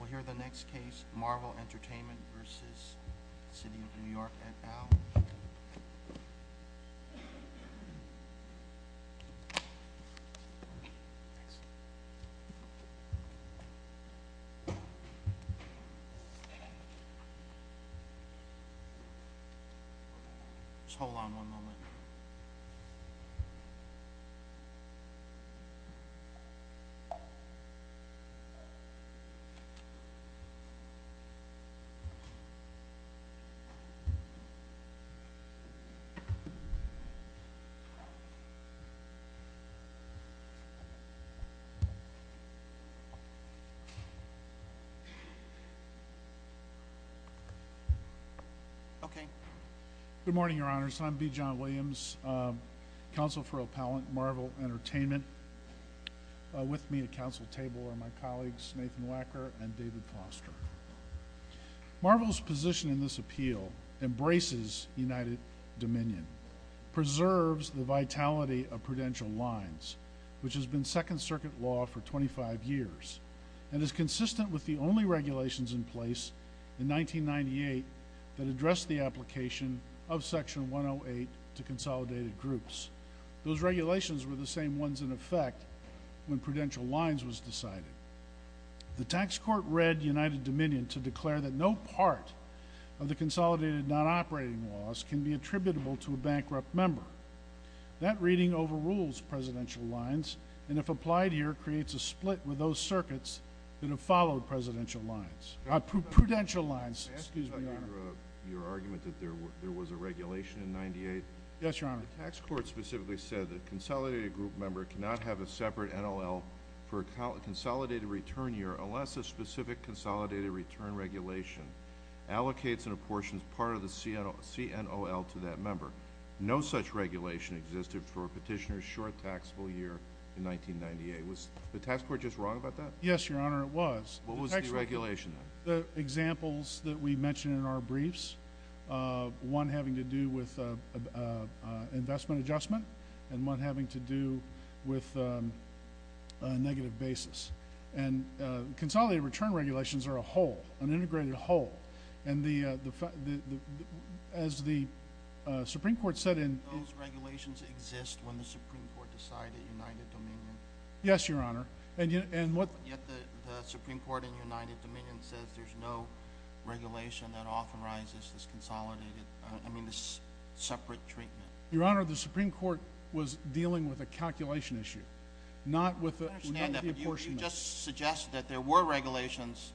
We'll hear the next case, Marvel Entertainment v. City of New York et al. Just hold on one moment. Okay. Good morning, your honors. I'm B. John Williams, counsel for O'Pallant Marvel Entertainment. With me at counsel table are my colleagues Nathan Wacker and David Foster. Marvel's position in this appeal embraces United Dominion, preserves the vitality of prudential lines, which has been second circuit law for 25 years and is consistent with the only regulations in place in 1998 that address the application of section 108 to consolidated groups. Those regulations were the same ones in effect when prudential lines was decided. The tax court read United Dominion to declare that no part of the consolidated non-operating laws can be attributable to a bankrupt member. That reading overrules presidential lines and if applied here creates a split with those circuits that have followed prudential lines. Excuse me, your honor. Your argument that there was a regulation in 1998? Yes, your honor. The tax court specifically said that a consolidated group member cannot have a separate NOL for a consolidated return year unless a specific consolidated return regulation allocates and apportions part of the CNOL to that member. No such regulation existed for a petitioner's short taxable year in 1998. Was the tax court just wrong about that? Yes, your honor, it was. What was the regulation? The examples that we mentioned in our briefs, one having to do with investment adjustment and one having to do with negative basis. Consolidated return regulations are a whole, an integrated whole. Those regulations exist when the Supreme Court decided United Dominion. Yes, your honor. Yet the Supreme Court in United Dominion says there's no regulation that authorizes this separate treatment. Your honor, the Supreme Court was dealing with a calculation issue, not with the apportionment. You just suggested that there were regulations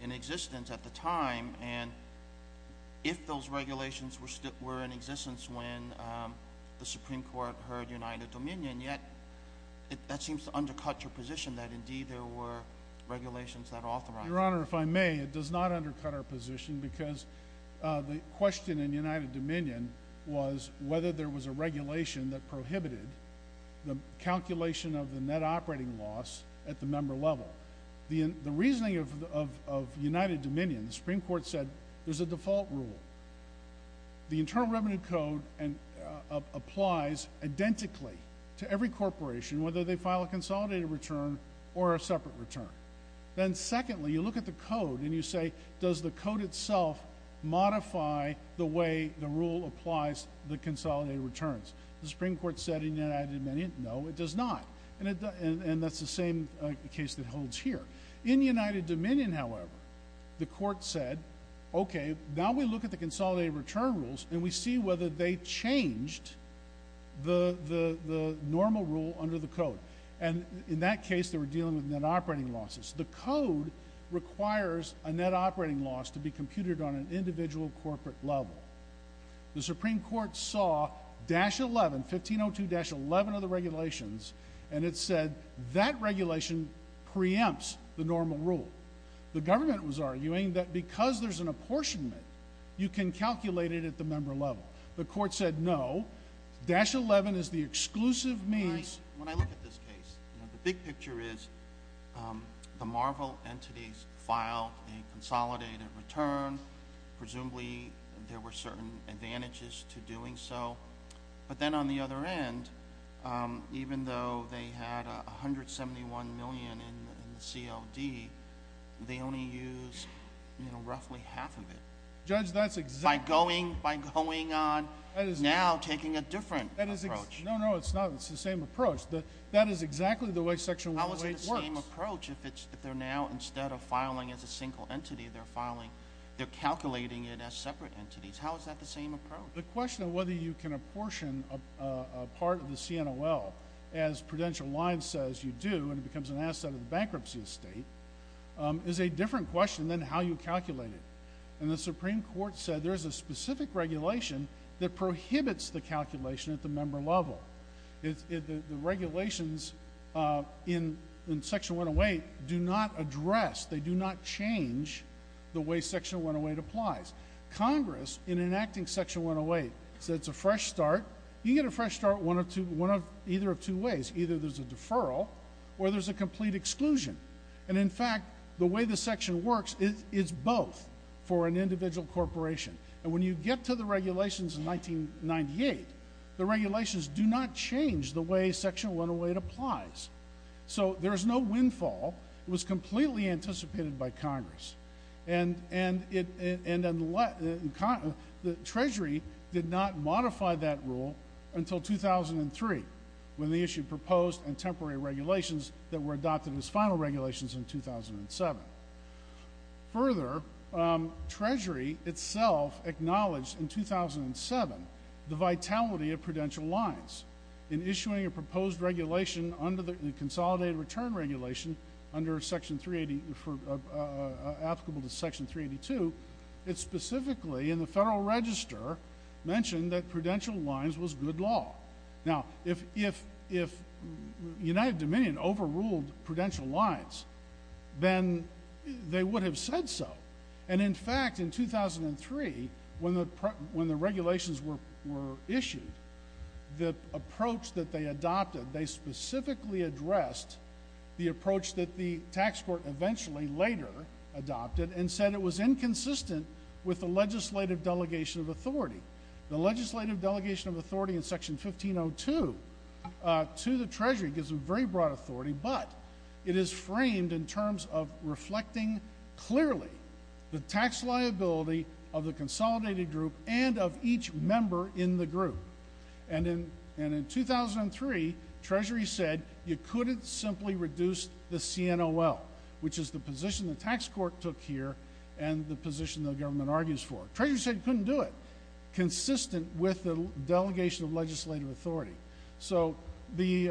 in existence at the time and if those regulations were in existence when the Supreme Court heard United Dominion, yet that seems to undercut your position that indeed there were regulations that authorized it. Your honor, if I may, it does not undercut our position because the question in United Dominion was whether there was a regulation that prohibited the calculation of the net operating loss at the member level. The reasoning of United Dominion, the Supreme Court said there's a default rule. The Internal Revenue Code applies identically to every corporation whether they file a consolidated return or a separate return. Then secondly, you look at the code and you say, does the code itself modify the way the rule applies the consolidated returns? The Supreme Court said in United Dominion, no, it does not. And that's the same case that holds here. In United Dominion, however, the court said, okay, now we look at the consolidated return rules and we see whether they changed the normal rule under the code. And in that case, they were dealing with net operating losses. The code requires a net operating loss to be computed on an individual corporate level. The Supreme Court saw 1502-11 of the regulations and it said that regulation preempts the normal rule. The government was arguing that because there's an apportionment, you can calculate it at the member level. The court said, no, dash 11 is the exclusive means. When I look at this case, the big picture is the Marvel entities filed a consolidated return. Presumably, there were certain advantages to doing so. But then on the other end, even though they had 171 million in the CLD, they only used roughly half of it. Judge, that's exactly— By going on, now taking a different approach. No, no, it's not. It's the same approach. That is exactly the way Section 108 works. How is it the same approach if they're now, instead of filing as a single entity, they're calculating it as separate entities? How is that the same approach? The question of whether you can apportion a part of the CNOL as Prudential Line says you do and it becomes an asset of the bankruptcy estate is a different question than how you calculate it. The Supreme Court said there's a specific regulation that prohibits the calculation at the member level. The regulations in Section 108 do not address, they do not change the way Section 108 applies. Congress, in enacting Section 108, said it's a fresh start. You can get a fresh start either of two ways. Either there's a deferral or there's a complete exclusion. And in fact, the way the section works, it's both for an individual corporation. And when you get to the regulations in 1998, the regulations do not change the way Section 108 applies. So there's no windfall. It was completely anticipated by Congress. And Treasury did not modify that rule until 2003 when they issued proposed and temporary regulations that were adopted as final regulations in 2007. Further, Treasury itself acknowledged in 2007 the vitality of Prudential Lines in issuing a proposed regulation under the Consolidated Return Regulation applicable to Section 382. It specifically, in the Federal Register, mentioned that Prudential Lines was good law. Now, if United Dominion overruled Prudential Lines, then they would have said so. And in fact, in 2003, when the regulations were issued, the approach that they adopted, they specifically addressed the approach that the tax court eventually later adopted and said it was inconsistent with the legislative delegation of authority. The legislative delegation of authority in Section 1502 to the Treasury gives a very broad authority, but it is framed in terms of reflecting clearly the tax liability of the consolidated group and of each member in the group. And in 2003, Treasury said you couldn't simply reduce the CNOL, which is the position the tax court took here and the position the government argues for. Treasury said you couldn't do it consistent with the delegation of legislative authority. So the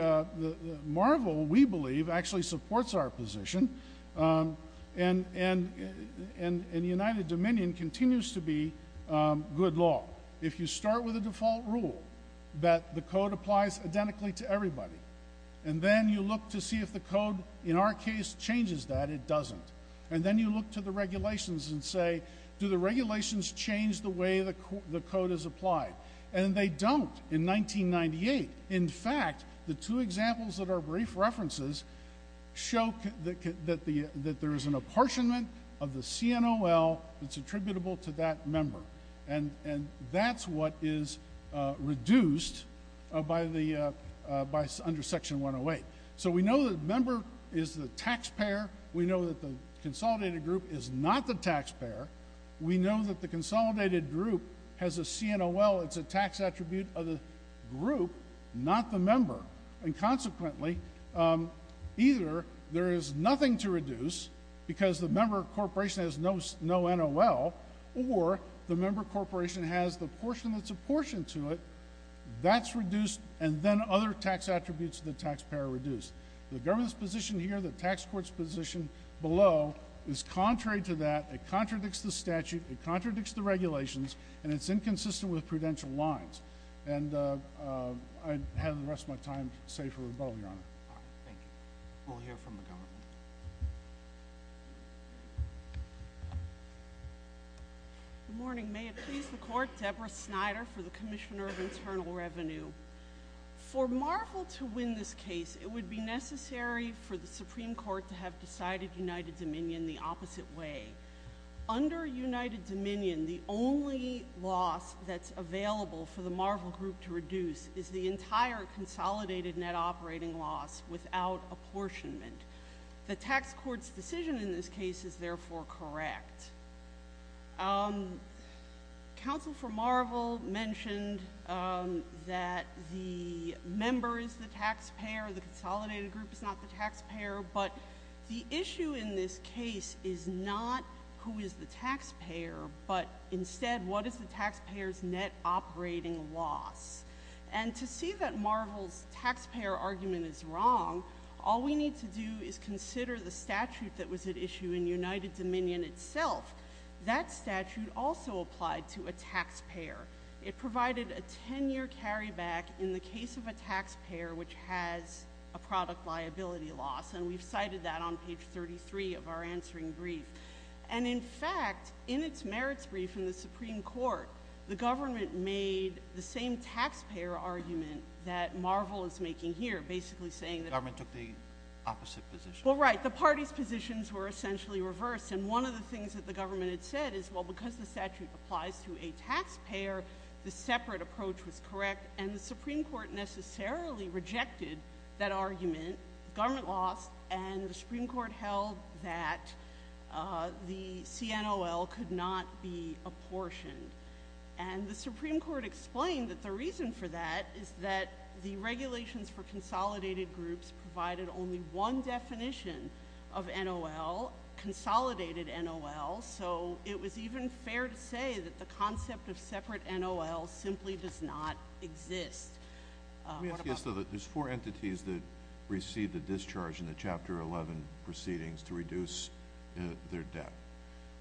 MARVEL, we believe, actually supports our position, and United Dominion continues to be good law. If you start with a default rule that the code applies identically to everybody and then you look to see if the code in our case changes that, it doesn't. And then you look to the regulations and say, do the regulations change the way the code is applied? And they don't in 1998. In fact, the two examples that are brief references show that there is an apportionment of the CNOL that's attributable to that member. And that's what is reduced under Section 108. So we know that the member is the taxpayer. We know that the consolidated group is not the taxpayer. We know that the consolidated group has a CNOL. It's a tax attribute of the group, not the member. And consequently, either there is nothing to reduce because the member corporation has no NOL or the member corporation has the portion that's apportioned to it, that's reduced, and then other tax attributes of the taxpayer are reduced. The government's position here, the tax court's position below, is contrary to that. It contradicts the statute. It contradicts the regulations. And it's inconsistent with prudential lines. And I'd have the rest of my time saved for rebuttal, Your Honor. Thank you. We'll hear from the government. Good morning. May it please the Court. Deborah Snyder for the Commissioner of Internal Revenue. For Marvel to win this case, it would be necessary for the Supreme Court to have decided United Dominion the opposite way. Under United Dominion, the only loss that's available for the Marvel group to reduce is the entire consolidated net operating loss without apportionment. The tax court's decision in this case is therefore correct. Counsel for Marvel mentioned that the member is the taxpayer, the consolidated group is not the taxpayer, but the issue in this case is not who is the taxpayer, but instead what is the taxpayer's net operating loss. And to see that Marvel's taxpayer argument is wrong, all we need to do is consider the statute that was at issue in United Dominion itself. That statute also applied to a taxpayer. It provided a 10-year carryback in the case of a taxpayer, which has a product liability loss. And we've cited that on page 33 of our answering brief. And, in fact, in its merits brief in the Supreme Court, the government made the same taxpayer argument that Marvel is making here, basically saying the government took the opposite position. Well, right. The party's positions were essentially reversed. And one of the things that the government had said is, well, because the statute applies to a taxpayer, the separate approach was correct. And the Supreme Court necessarily rejected that argument. The government lost, and the Supreme Court held that the CNOL could not be apportioned. And the Supreme Court explained that the reason for that is that the regulations for consolidated groups provided only one definition of NOL, consolidated NOL. So it was even fair to say that the concept of separate NOL simply does not exist. Let me ask you this, though. There's four entities that received a discharge in the Chapter 11 proceedings to reduce their debt.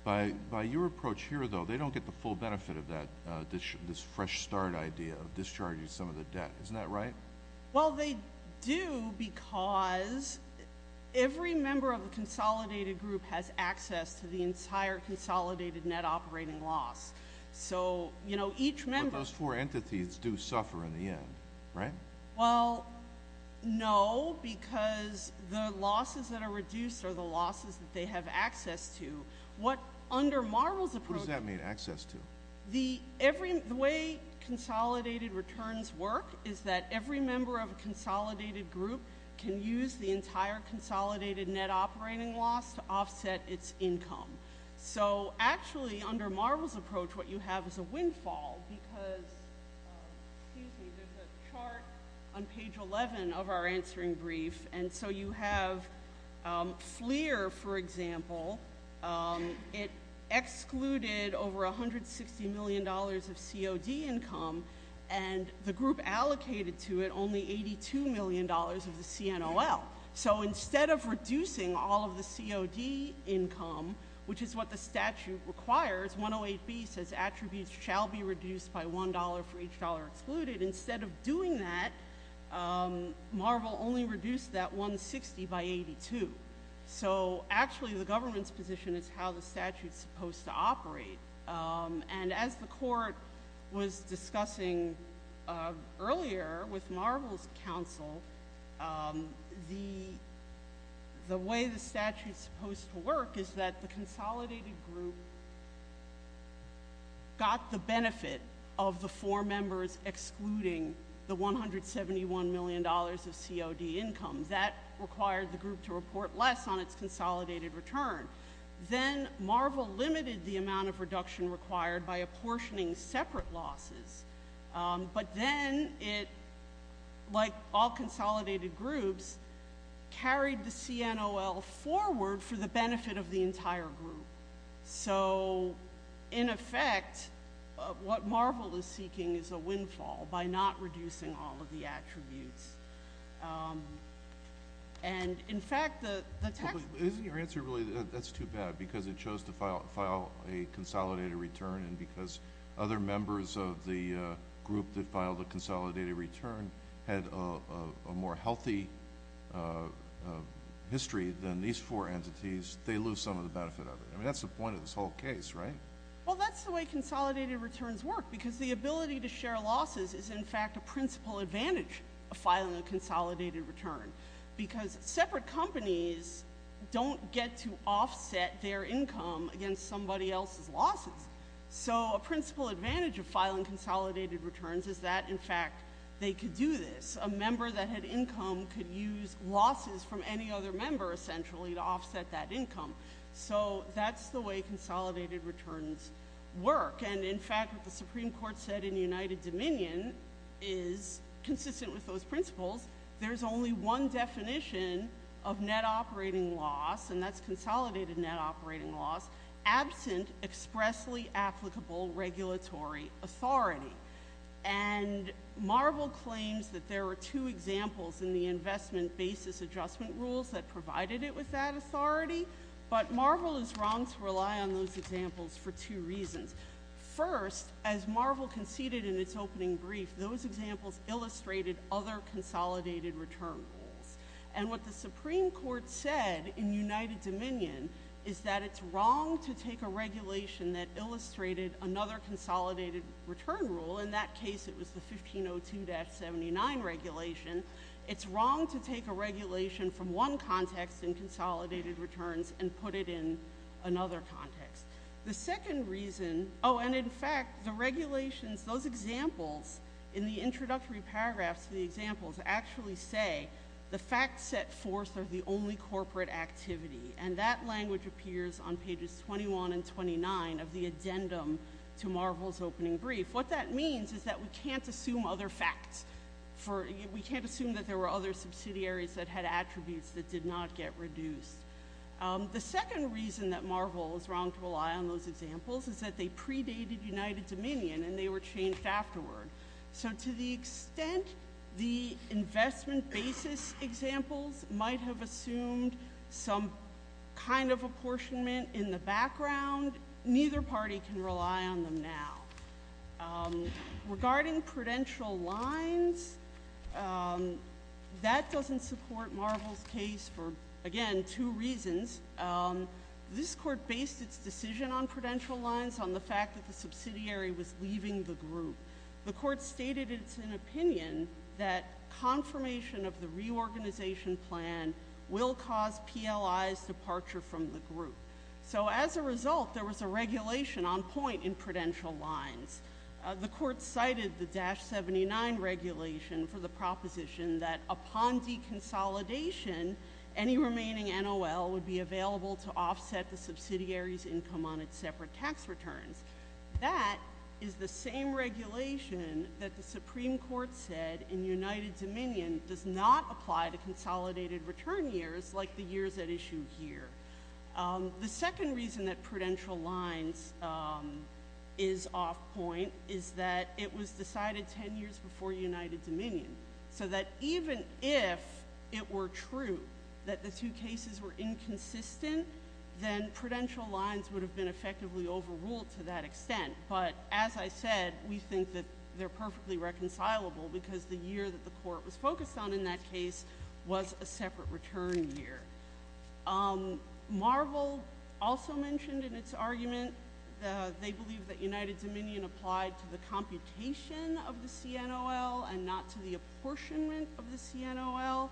By your approach here, though, they don't get the full benefit of that, this fresh start idea of discharging some of the debt. Isn't that right? Well, they do because every member of the consolidated group has access to the entire consolidated net operating loss. But those four entities do suffer in the end, right? Well, no, because the losses that are reduced are the losses that they have access to. Who does that mean, access to? The way consolidated returns work is that every member of a consolidated group can use the entire consolidated net operating loss to offset its income. So actually, under Marvel's approach, what you have is a windfall because there's a chart on page 11 of our answering brief, and so you have FLIR, for example. It excluded over $160 million of COD income, and the group allocated to it only $82 million of the CNOL. So instead of reducing all of the COD income, which is what the statute requires, 108B says attributes shall be reduced by $1 for each dollar excluded. Instead of doing that, Marvel only reduced that $160 by $82. So actually, the government's position is how the statute's supposed to operate. And as the court was discussing earlier with Marvel's counsel, the way the statute's supposed to work is that the consolidated group got the benefit of the four members excluding the $171 million of COD income. That required the group to report less on its consolidated return. Then Marvel limited the amount of reduction required by apportioning separate losses. But then it, like all consolidated groups, carried the CNOL forward for the benefit of the entire group. So in effect, what Marvel is seeking is a windfall by not reducing all of the attributes. And, in fact, the tax— Isn't your answer really that that's too bad because it chose to file a consolidated return and because other members of the group that filed a consolidated return had a more healthy history than these four entities, they lose some of the benefit of it? I mean, that's the point of this whole case, right? Well, that's the way consolidated returns work, because the ability to file a consolidated return. Because separate companies don't get to offset their income against somebody else's losses. So a principal advantage of filing consolidated returns is that, in fact, they could do this. A member that had income could use losses from any other member, essentially, to offset that income. So that's the way consolidated returns work. And, in fact, what the Supreme Court said in the United Dominion is consistent with those principles. There's only one definition of net operating loss, and that's consolidated net operating loss, absent expressly applicable regulatory authority. And Marvel claims that there are two examples in the investment basis adjustment rules that provided it with that authority. But Marvel is wrong to rely on those examples for two reasons. First, as Marvel conceded in its opening brief, those examples illustrated other consolidated return rules. And what the Supreme Court said in United Dominion is that it's wrong to take a regulation that illustrated another consolidated return rule. In that case, it was the 1502-79 regulation. It's wrong to take a regulation from one context in consolidated returns and put it in another context. The second reason — oh, and, in fact, the regulations, those examples in the introductory paragraphs of the examples actually say the facts set forth are the only corporate activity. And that language appears on pages 21 and 29 of the addendum to Marvel's opening brief. What that means is that we can't assume other facts. We can't assume that there were other subsidiaries that had attributes that did not get reduced. The second reason that Marvel is wrong to rely on those examples is that they predated United Dominion and they were changed afterward. So to the extent the investment basis examples might have assumed some kind of apportionment in the background, neither party can rely on them now. Regarding prudential lines, that doesn't support Marvel's case for, again, two reasons. This court based its decision on prudential lines on the fact that the subsidiary was leaving the group. The court stated it's an opinion that confirmation of the reorganization plan will cause PLI's departure from the group. So as a result, there was a regulation on point in prudential lines. The court cited the Dash 79 regulation for the proposition that upon deconsolidation, any remaining NOL would be available to offset the subsidiary's income on its separate tax returns. That is the same regulation that the Supreme Court said in United Dominion does not apply to consolidated return years like the years at issue here. The second reason that prudential lines is off point is that it was decided 10 years before United Dominion. So that even if it were true that the two cases were inconsistent, then prudential lines would have been effectively overruled to that extent. But as I said, we think that they're perfectly reconcilable because the year that the court was focused on in that case was a separate return year. Marvel also mentioned in its argument they believe that United Dominion applied to the computation of the CNOL and not to the apportionment of the CNOL.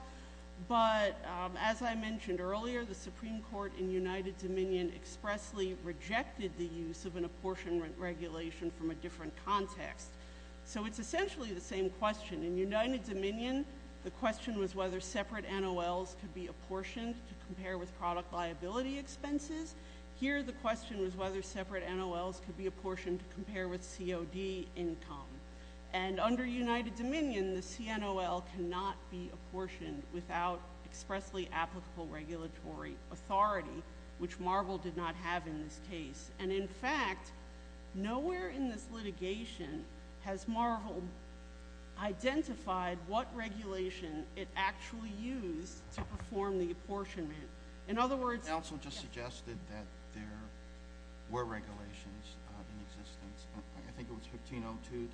But as I mentioned earlier, the Supreme Court in United Dominion expressly rejected the use of an apportionment regulation from a different context. So it's essentially the same question. In United Dominion, the question was whether separate NOLs could be apportioned to compare with product liability expenses. Here the question was whether separate NOLs could be apportioned to compare with COD income. And under United Dominion, the CNOL cannot be apportioned without expressly applicable regulatory authority, which Marvel did not have in this case. And in fact, nowhere in this litigation has Marvel identified what regulation it actually used to perform the apportionment. In other words — Counsel just suggested that there were regulations in existence. I think it was 1502-11.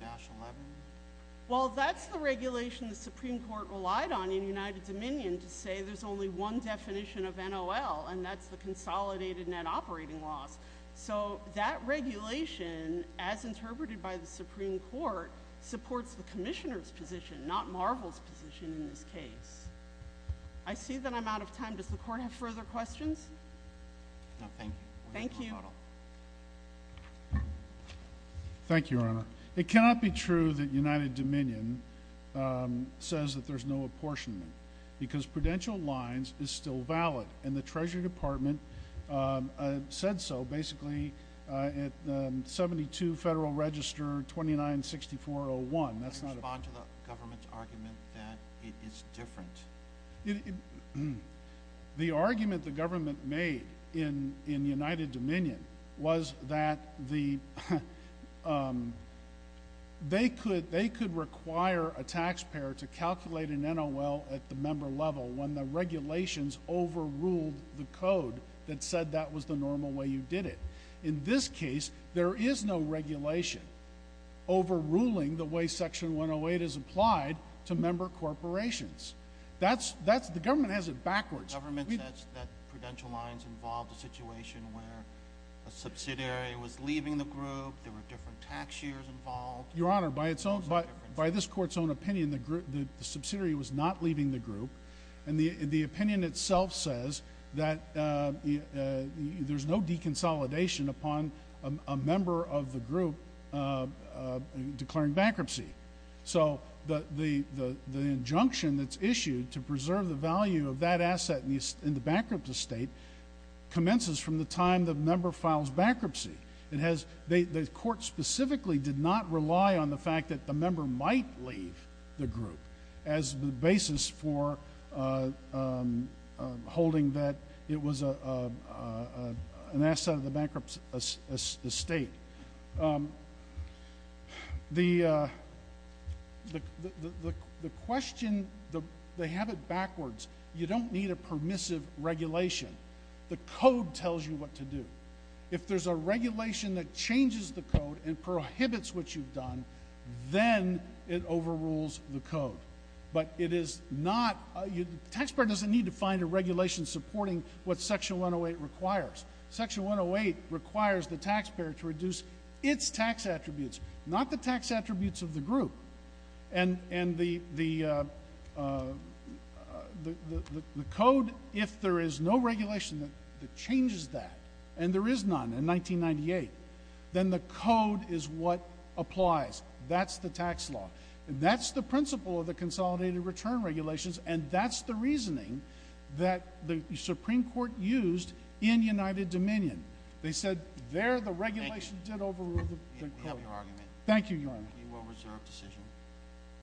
Well, that's the regulation the Supreme Court relied on in United Dominion to say there's only one definition of NOL, and that's the consolidated net operating loss. So that regulation, as interpreted by the Supreme Court, supports the Marvel's position in this case. I see that I'm out of time. Does the Court have further questions? No, thank you. Thank you. Thank you, Your Honor. It cannot be true that United Dominion says that there's no apportionment because prudential lines is still valid, and the Treasury Department said so basically at 72 Federal Register 296401. I want to respond to the government's argument that it is different. The argument the government made in United Dominion was that they could require a taxpayer to calculate an NOL at the member level when the regulations overruled the code that said that was the normal way you did it. In this case, there is no regulation overruling the way Section 108 is applied to member corporations. The government has it backwards. The government says that prudential lines involved a situation where a subsidiary was leaving the group, there were different tax years involved. Your Honor, by this Court's own opinion, the subsidiary was not leaving the group declaring bankruptcy. So the injunction that's issued to preserve the value of that asset in the bankrupt estate commences from the time the member files bankruptcy. The Court specifically did not rely on the fact that the member might leave the group as the basis for holding that it was an asset of the bankrupt estate. The question, they have it backwards. You don't need a permissive regulation. The code tells you what to do. If there's a regulation that changes the code and prohibits what you've done, then it overrules the code. But it is not, the taxpayer doesn't need to find a regulation supporting what Section 108 requires. Section 108 requires the taxpayer to reduce its tax attributes, not the tax attributes of the group. And the code, if there is no regulation that changes that, and there is none in 1998, then the code is what applies. That's the tax law. And that's the principle of the consolidated return regulations, and that's the reasoning that the Supreme Court used in United Dominion. They said there the regulation did overrule the code. We have your argument. Thank you, Your Honor. We will reserve decision.